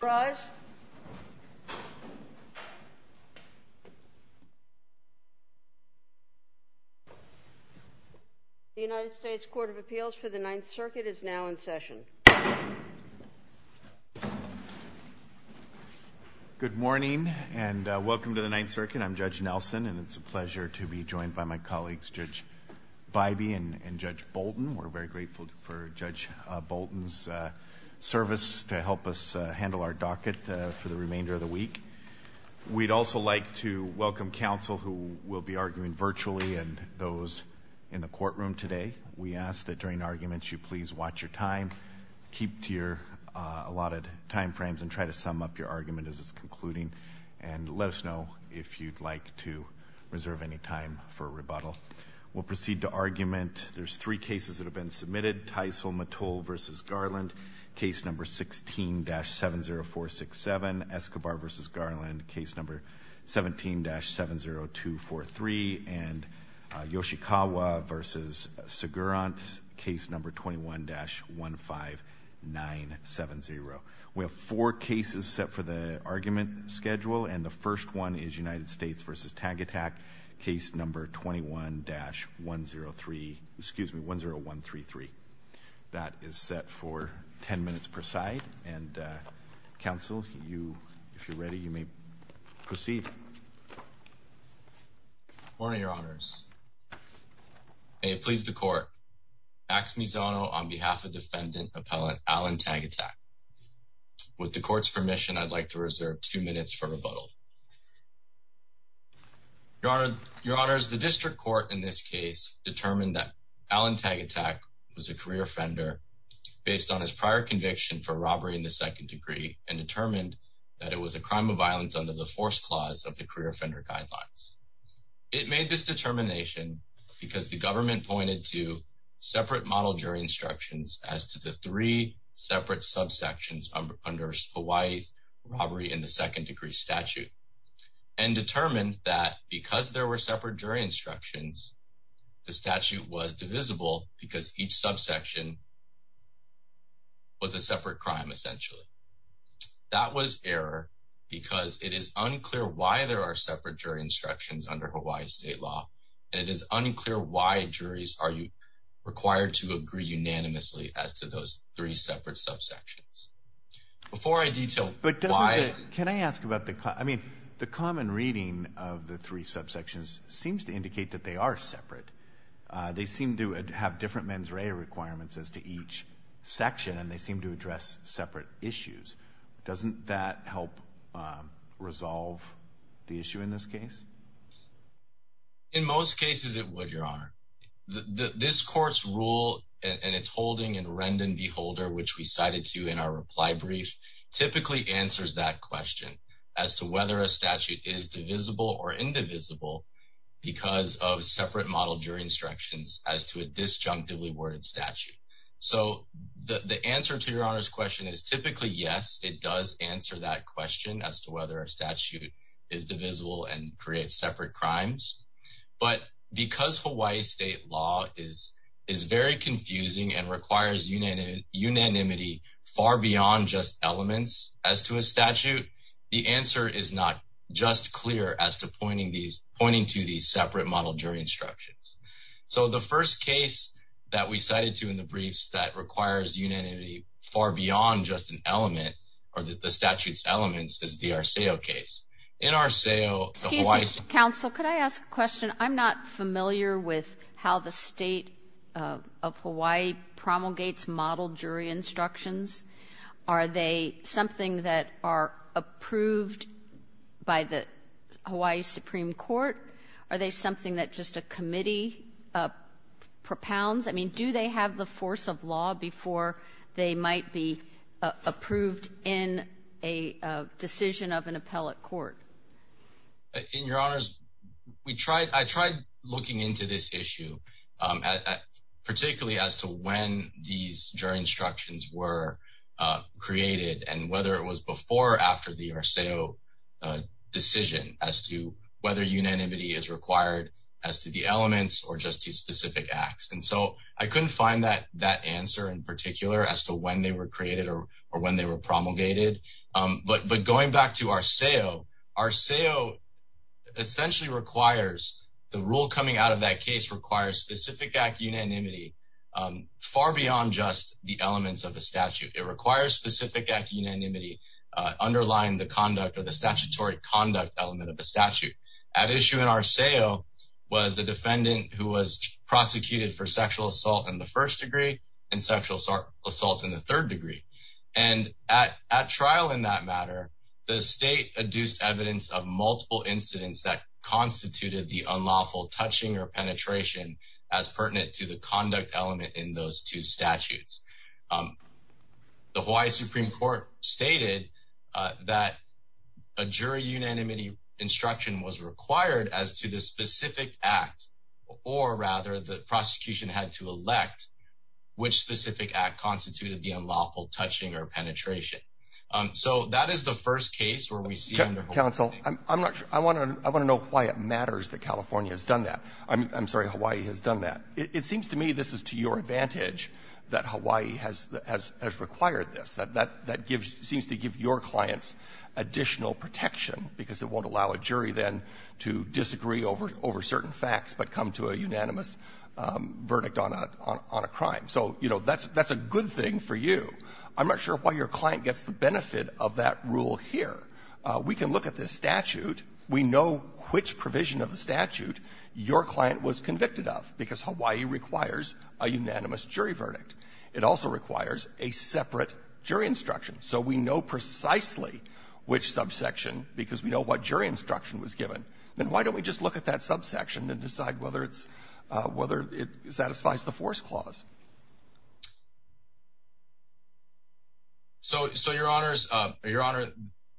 The United States Court of Appeals for the Ninth Circuit is now in session. Good morning and welcome to the Ninth Circuit. I'm Judge Nelson and it's a pleasure to be joined by my colleagues Judge Biby and Judge Bolton. We're very grateful for Judge Bolton's service to help us handle our docket for the remainder of the week. We'd also like to welcome counsel who will be arguing virtually and those in the courtroom today. We ask that during arguments you please watch your time, keep to your allotted time frames and try to sum up your argument as it's concluding and let us know if you'd like to reserve any time for a rebuttal. We'll proceed to argument. There's three cases that have been submitted Tysol Mattol v. Garland case number 16-70467 Escobar v. Garland case number 17-70243 and Yoshikawa v. Segurant case number 21-15970. We have four cases set for the argument schedule and the first one is United States v. Tagitac case number 21-10133. That is set for 10 minutes per side and counsel, if you're ready, you may proceed. Morning, your honors. May it please the court. Max Mizono on behalf of defendant appellant Alan Tagitac. With the court's permission, I'd like to reserve two minutes for rebuttal. Your honors, the district court in this case determined that Alan Tagitac was a career offender based on his prior conviction for robbery in the second degree and determined that it was a crime of violence under the force clause of the career offender guidelines. It made this determination because the government pointed to separate model jury instructions as to the three separate subsections under Hawaii's robbery in the second degree statute and determined that because there were separate jury instructions, the statute was divisible because each subsection was a separate crime essentially. That was error because it is unclear why there are separate jury instructions under Hawaii state law and it is unclear why the juries are required to agree unanimously as to those three separate subsections. Before I detail why... Can I ask about the, I mean, the common reading of the three subsections seems to indicate that they are separate. They seem to have different mens rea requirements as to each section and they seem to address separate issues. Doesn't that help resolve the issue in this case? In most cases it would, Your Honor. This court's rule and its holding in Rendon v. Holder, which we cited to you in our reply brief, typically answers that question as to whether a statute is divisible or indivisible because of separate model jury instructions as to a disjunctively worded statute. So the answer to Your Honor's question is typically yes, it does answer that question as to whether a statute is divisible and creates separate crimes. But because Hawaii state law is very confusing and requires unanimity far beyond just elements as to a statute, the answer is not just clear as to pointing to these separate model jury instructions. So the first case that we cited to in the briefs that requires unanimity far beyond just an element or the statute's elements is the Arceo case. In Arceo, the Hawaii — Excuse me, counsel. Could I ask a question? I'm not familiar with how the state of Hawaii promulgates model jury instructions. Are they something that are approved by the Hawaii Supreme Court? Are they something that just a committee propounds? I mean, do they have the force of law before they might be approved in a decision of an appellate court? In Your Honors, we tried — I tried looking into this issue, particularly as to when these jury instructions were created and whether it was before or after the Arceo decision as to whether unanimity is required as to the elements or just to specific acts. And so I couldn't find that answer in particular as to when they were created or when they were promulgated. But going back to Arceo, Arceo essentially requires — the rule coming out of that case requires specific act unanimity far beyond just the elements of a statute. It requires specific act unanimity underlying the conduct or the statutory conduct element of a statute. At issue in Arceo was the defendant who was prosecuted for sexual assault in the first degree and sexual assault in the third degree. And at trial in that matter, the state adduced evidence of multiple incidents that constituted the unlawful touching or penetration as pertinent to the conduct element in those two statutes. The Hawaii Supreme Court stated that a jury unanimity instruction was required as to the specific act or, rather, the prosecution had to elect which specific act constituted the unlawful touching or penetration. So that is the first case where we see under Hawaii — Counsel, I'm not sure — I want to know why it matters that California has done that. I'm sorry, Hawaii has done that. It seems to me this is to your advantage that Hawaii has — has — has required this. That — that gives — seems to give your client's additional protection, because it won't allow a jury then to disagree over — over certain facts but come to a unanimous verdict on a — on a crime. So, you know, that's — that's a good thing for you. I'm not sure why your client gets the benefit of that rule here. We can look at this statute. We know which provision of the statute your client was convicted of, because Hawaii requires a unanimous jury verdict. It also requires a separate jury instruction. So we know precisely which subsection, because we know what jury instruction was given. Then why don't we just look at that subsection and decide whether it's — whether it satisfies the force clause? So — so, Your Honors — Your Honor,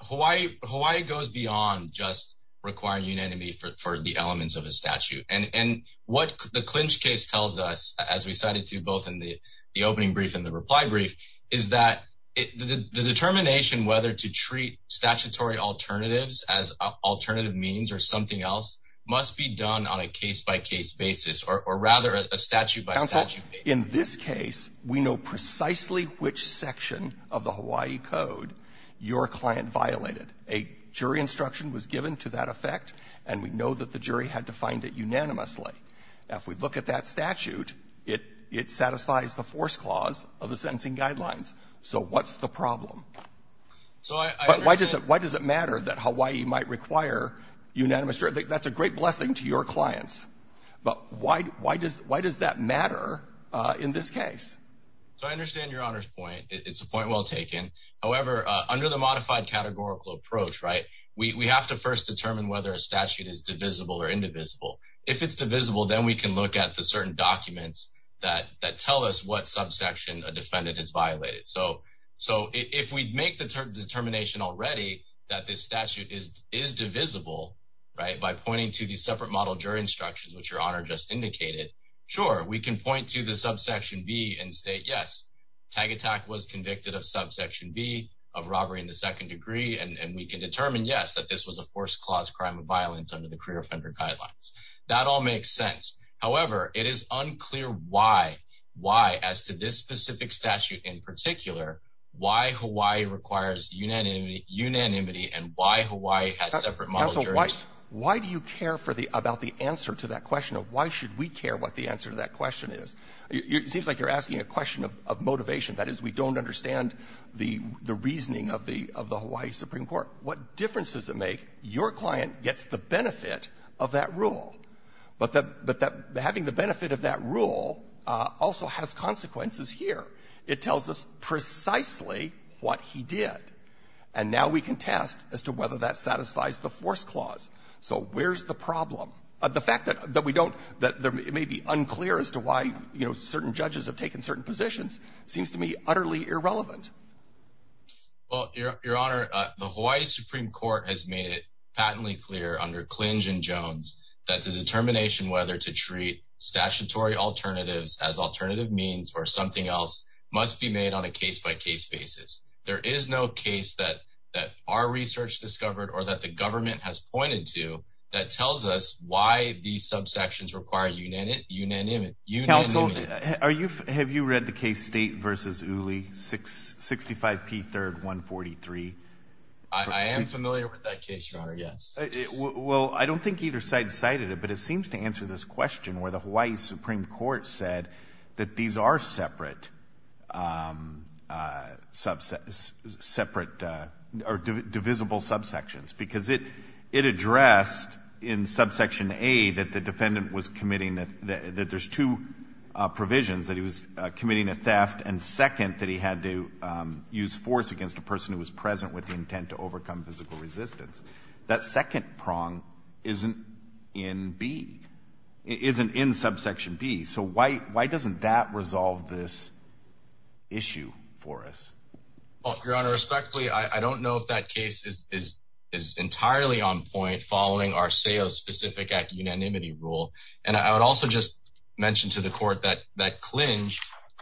Hawaii — Hawaii goes beyond just requiring unanimity for — for the elements of a statute. And — and what the Clinch case tells us, as we cited to both in the — the opening brief and the reply brief, is that it — the determination whether to treat statutory alternatives as alternative means or something else must be done on a case-by-case basis, or — or rather, a statute-by-statute basis. Counsel, in this case, we know precisely which section of the Hawaii Code your client violated. A jury instruction was given to that effect, and we know that the jury had to find it unanimously. Now, if we look at that statute, it — it satisfies the force clause of the sentencing guidelines. So what's the problem? So I — I understand — But why does it — why does it matter that Hawaii might require unanimous jury — that's a great blessing to your clients. But why — why does — why does that matter in this case? So I understand Your Honor's point. It's a point well taken. However, under the modified categorical approach, right, we — we have to first determine whether a statute is divisible or indivisible. If it's divisible, then we can look at the certain documents that — that tell us what subsection a defendant has violated. So — so if we make the determination already that this statute is — is divisible, right, by pointing to the separate model jury instructions, which Your Honor just indicated, sure, we can point to the subsection B and state, yes, tag attack was convicted of subsection B, of robbery in the second degree, and — and we can determine, yes, that this was a forced clause crime of violence under the career offender guidelines. That all makes sense. However, it is unclear why — why, as to this specific statute in particular, why Hawaii requires unanimity — unanimity and why Hawaii has separate model juries — Counsel, why — why do you care for the — about the answer to that question of why should we care what the answer to that question is? It seems like you're asking a question of — of motivation. That is, we don't understand the — the reasoning of the — of the Hawaii Supreme Court. What difference does it make? Your client gets the benefit of that rule. But the — but that — having the benefit of that rule also has consequences here. It tells us precisely what he did. And now we can test as to whether that satisfies the forced clause. So where's the problem? The fact that — that we don't — that it may be unclear as to why, you know, certain judges have taken certain positions seems to me utterly irrelevant. Well, Your Honor, the Hawaii Supreme Court has made it patently clear under Klinge and Jones that the determination whether to treat statutory alternatives as alternative means or something else must be made on a case-by-case basis. There is no case that — that our research discovered or that the government has pointed to that tells us why these subsections require unanimity — unanimity — unanimity. Are you — have you read the case State v. Uli, 65 P. 3rd, 143? I am familiar with that case, Your Honor, yes. Well, I don't think either side cited it, but it seems to answer this question where the Hawaii Supreme Court said that these are separate — separate — or divisible subsections. Because it — it addressed in subsection A that the defendant was committing — that there's two provisions, that he was committing a theft, and second, that he had to use force against a person who was present with the intent to overcome physical resistance. That second prong isn't in B — isn't in subsection B. So why — why doesn't that resolve this issue for us? Well, Your Honor, respectfully, I don't know if that case is — is entirely on point following Arceo's specific act-unanimity rule. And I would also just mention to the Court that — that Klinge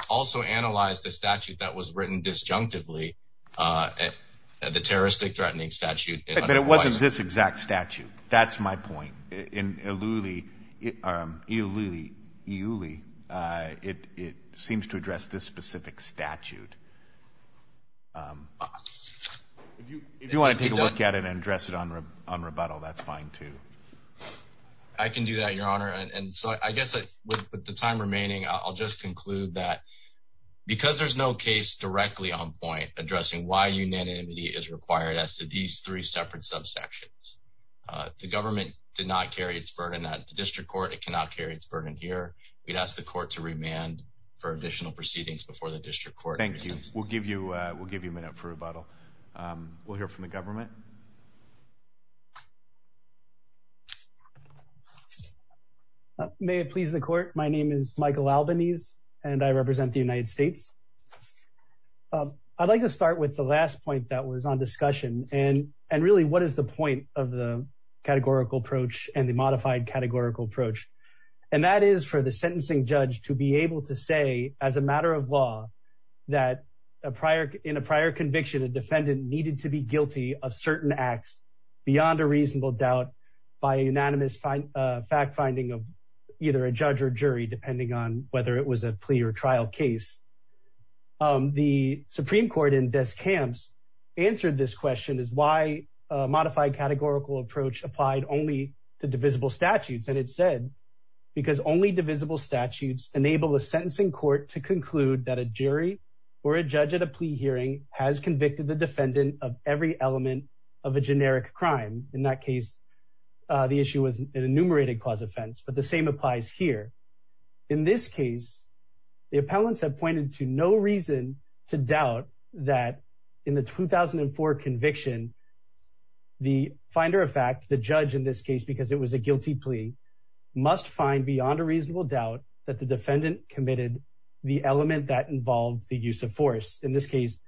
also analyzed a statute that was written disjunctively, the terroristic-threatening statute — But it wasn't this exact statute. That's my point. In Iuli — Iuli — Iuli, it — it seems to address this specific statute. If you — if you want to take a look at it and address it on rebuttal, that's fine, too. I can do that, Your Honor. And so I guess with the time remaining, I'll just conclude that because there's no case directly on point addressing why unanimity is required as to these three separate subsections, the government did not carry its burden at the District Court. It cannot carry its burden here. We'd ask the Court to remand for additional proceedings before the District Court. Thank you. We'll give you — we'll give you a minute for rebuttal. We'll hear from the government. May it please the Court, my name is Michael Albanese, and I represent the United States. I'd like to start with the last point that was on discussion, and — and really, what is the point of the categorical approach and the modified categorical approach? And that is for the sentencing judge to be able to say, as a matter of law, that a prior — in a prior conviction, a defendant needed to be guilty of certain acts beyond a reasonable doubt by a unanimous fact-finding of either a judge or jury, depending on whether it was a plea or trial case. The Supreme Court in Des Camps answered this question, is why a modified categorical approach applied only to divisible statutes? And it said, because only divisible statutes enable a sentencing court to conclude that a jury or a judge at a plea hearing has convicted the defendant of every element of a generic crime. In that case, the issue was an enumerated cause offense, but the same applies here. In this case, the appellants have pointed to no reason to doubt that in the 2004 conviction, the finder of fact — the judge in this case, because it was a guilty plea — must find beyond a reasonable doubt that the defendant committed the element that involved the use of force. In this case,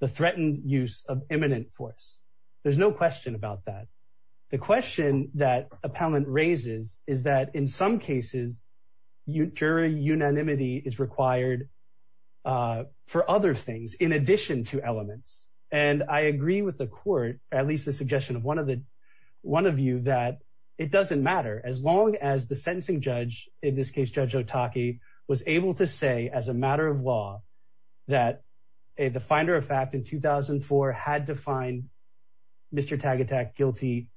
the threatened use of imminent force. There's no question about that. The question that appellant raises is that in some cases, jury unanimity is required for other things in addition to elements. And I agree with the court, at least the suggestion of one of you, that it doesn't matter. As long as the sentencing judge — in this case, Judge Otake — was able to say as a matter of law that the finder of fact in 2004 had to find Mr. Tagetak guilty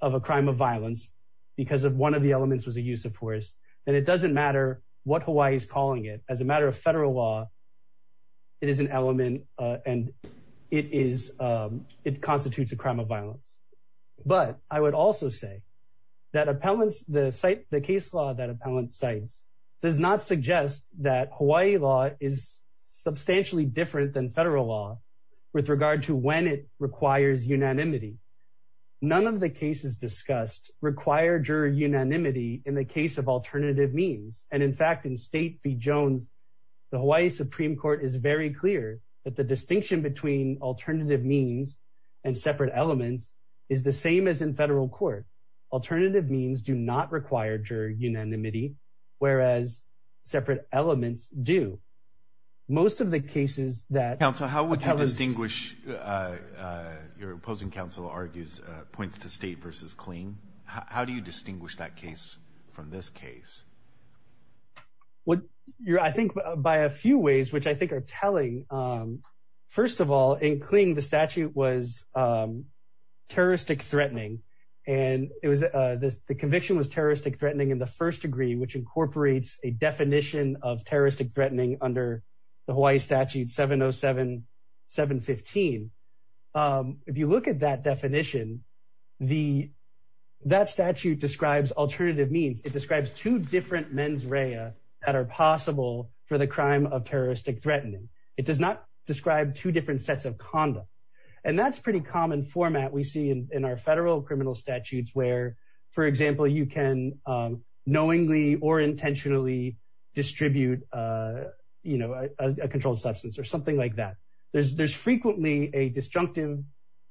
of a crime of violence because one of the elements was a use of force, then it doesn't matter what Hawaii is calling it. As a matter of federal law, it is an element and it constitutes a crime of violence. But I would also say that the case law that appellant cites does not suggest that Hawaii law is substantially different than federal law with regard to when it requires unanimity. None of the cases discussed require jury unanimity in the case of alternative means. And in fact, in State v. Jones, the Hawaii Supreme Court is very clear that the distinction between alternative means and separate elements is the same as in federal court. Alternative means do not require jury unanimity, whereas separate elements do. Most of the cases that appellants — Counsel, how would you distinguish — your opposing counsel argues — points to State versus Clean. How do you distinguish that case from this case? I think by a few ways, which I think are telling. First of all, in Clean, the statute was terroristic threatening. The conviction was terroristic threatening in the first degree, which incorporates a definition of terroristic threatening under the Hawaii statute 707-715. If you look at that definition, that statute describes alternative means. It describes two different mens rea that are possible for the crime of terroristic threatening. It does not describe two different sets of conduct. And that's a pretty common format we see in our federal criminal statutes where, for example, you can knowingly or intentionally distribute a controlled substance or something like that. There's frequently a disjunctive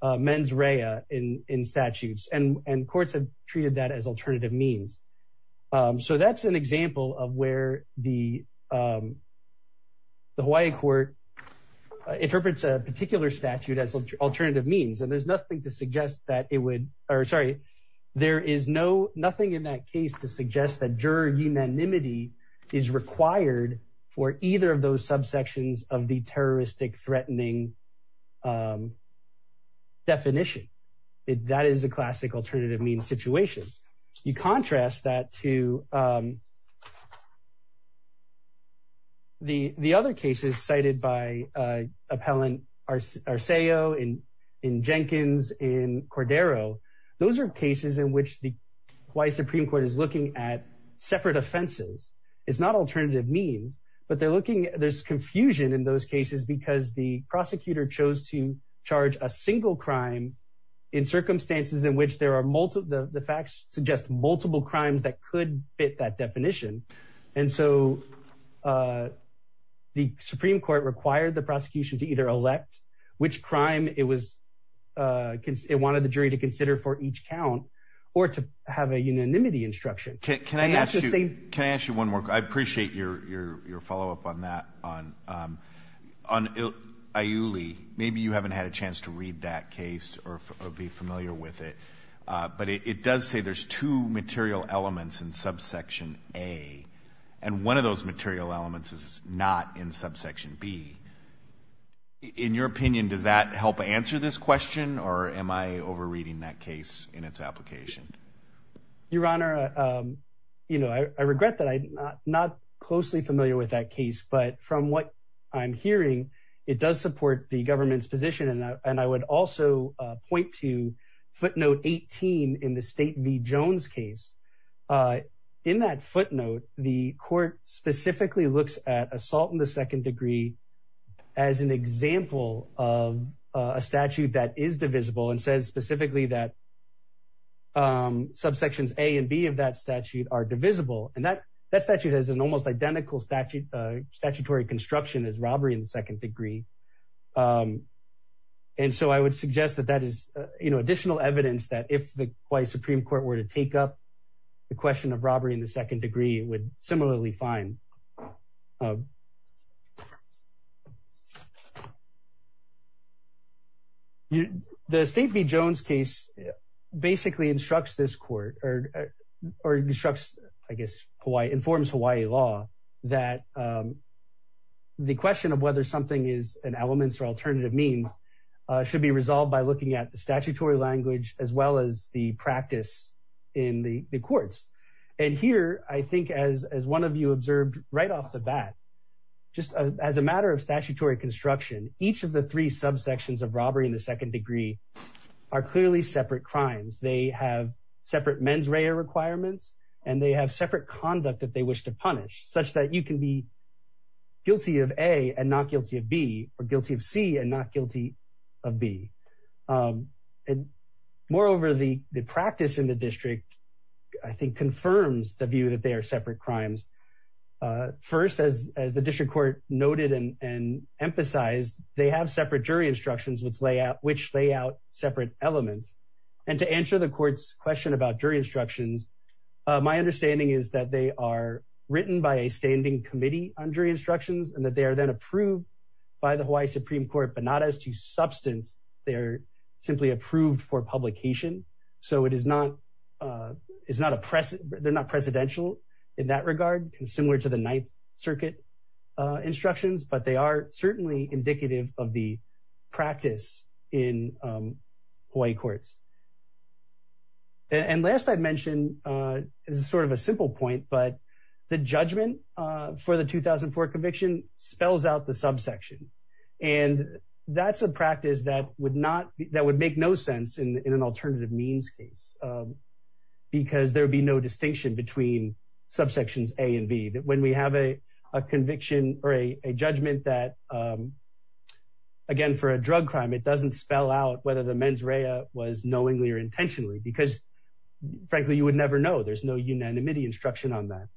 mens rea in statutes, and courts have treated that as alternative means. So that's an example of where the Hawaii court interprets a particular statute as alternative means. And there's nothing to suggest that it would — or sorry, there is nothing in that case to suggest that jury unanimity is required for either of those subsections of the terroristic threatening definition. That is a classic alternative means situation. You contrast that to the other cases cited by Appellant Arceo, in Jenkins, in Cordero. Those are cases in which the Hawaii Supreme Court is looking at separate offenses. It's not alternative means, but they're looking — there's confusion in those cases because the prosecutor chose to charge a single crime in circumstances in which there are — the facts suggest multiple crimes that could fit that definition. And so the Supreme Court required the prosecution to either elect which crime it was — it wanted the jury to consider for each count or to have a unanimity instruction. Can I ask you one more? I appreciate your follow-up on that. On Iuli, maybe you haven't had a chance to read that case or be familiar with it, but it does say there's two material elements in subsection A, and one of those material elements is not in subsection B. In your opinion, does that help answer this question, or am I overreading that case in its application? Your Honor, I regret that I'm not closely familiar with that case, but from what I'm hearing, it does support the government's position, and I would also point to footnote 18 in the State v. Jones case. In that footnote, the court specifically looks at assault in the second degree as an example of a statute that is divisible and says specifically that subsections A and B of that statute are divisible, and that statute has an almost identical statutory construction as robbery in the second degree. And so I would suggest that that is additional evidence that if the Hawaii Supreme Court were to take up the question of robbery in the second degree, it would similarly find. You know, the State v. Jones case basically instructs this court or instructs, I guess, Hawaii, informs Hawaii law that the question of whether something is an elements or alternative means should be resolved by looking at the statutory language as well as the practice in the courts. And here, I think as one of you observed right off the bat, just as a matter of statutory construction, each of the three subsections of robbery in the second degree are clearly separate crimes. They have separate mens rea requirements, and they have separate conduct that they wish to punish such that you can be guilty of A and not guilty of B or guilty of C and not guilty of B. And moreover, the practice in the district, I think, confirms the view that they are separate crimes. First, as the district court noted and emphasized, they have separate jury instructions which lay out separate elements. And to answer the court's question about jury instructions, my understanding is that they are written by a standing committee on jury instructions and that they are then approved by the Hawaii Supreme Court, but not as to substance. They're simply approved for publication. So they're not precedential in that regard, similar to the Ninth Circuit instructions, but they are certainly indicative of the practice in Hawaii courts. And last I'd mention, this is sort of a simple point, but the judgment for the 2004 conviction spells out the subsection. And that's a practice that would make no sense in an alternative means case because there would be no distinction between subsections A and B. When we have a conviction or a judgment that, again, for a drug crime, it doesn't spell out whether the mens rea was knowingly or intentionally because, frankly, you would never know. There's no unanimity instruction on that.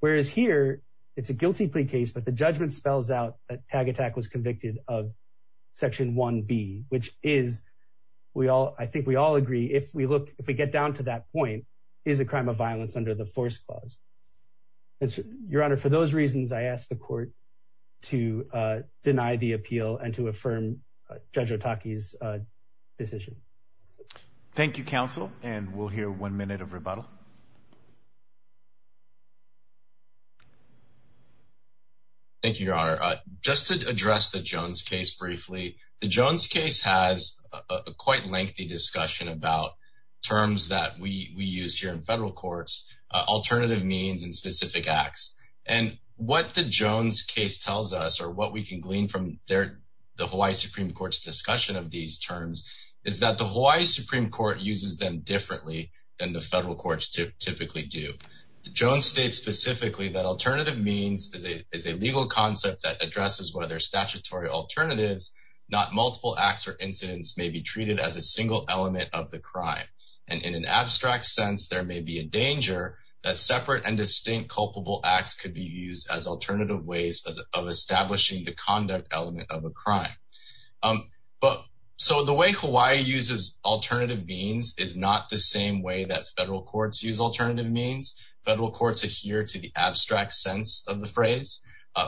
Whereas here, it's a guilty plea case, but the judgment spells out that Tag Attack was convicted of section 1B, which is, I think we all agree, if we get down to that point, is a crime of violence under the force clause. Your Honor, for those reasons, I ask the court to deny the appeal and to affirm Judge Otake's decision. Thank you, counsel. And we'll hear one minute of rebuttal. Thank you, Your Honor. Just to address the Jones case briefly, the Jones case has a quite lengthy discussion about terms that we use here in federal courts, alternative means and specific acts. And what the Jones case tells us, or what we can glean from the Hawaii Supreme Court's discussion of these terms, is that the Hawaii Supreme Court uses them differently than the federal courts typically do. Jones states specifically that alternative means is a legal concept that addresses whether statutory alternatives, not multiple acts or incidents, may be treated as a single element of the crime. And in an abstract sense, there may be a danger that separate and distinct culpable acts could be used as alternative ways of establishing the conduct element of a crime. So the way Hawaii uses alternative means is not the same way that federal courts use alternative means. Federal courts adhere to the abstract sense of the phrase.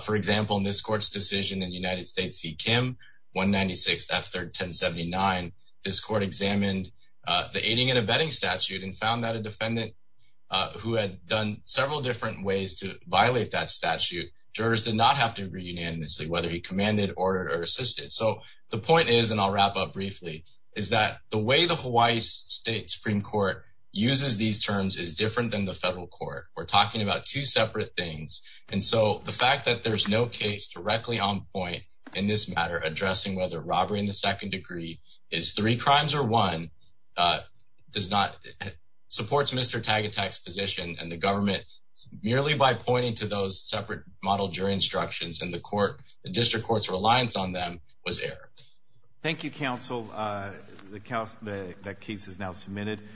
For example, in this court's decision in United States v. Kim, 196 F3rd 1079, this court examined the aiding and abetting statute and found that a defendant who had done several different ways to violate that statute, jurors did not have to agree unanimously whether he commanded, ordered, or assisted. So the point is, and I'll wrap up briefly, is that the way the Hawaii State Supreme Court uses these terms is different than the federal court. We're talking about two separate things. And so the fact that there's no case directly on point in this matter addressing whether robbery in the second degree is three crimes or one supports Mr. Tagetak's position and the government, merely by pointing to those separate model jury instructions and the court, the district court's reliance on them, was error. Thank you, counsel. That case is now submitted.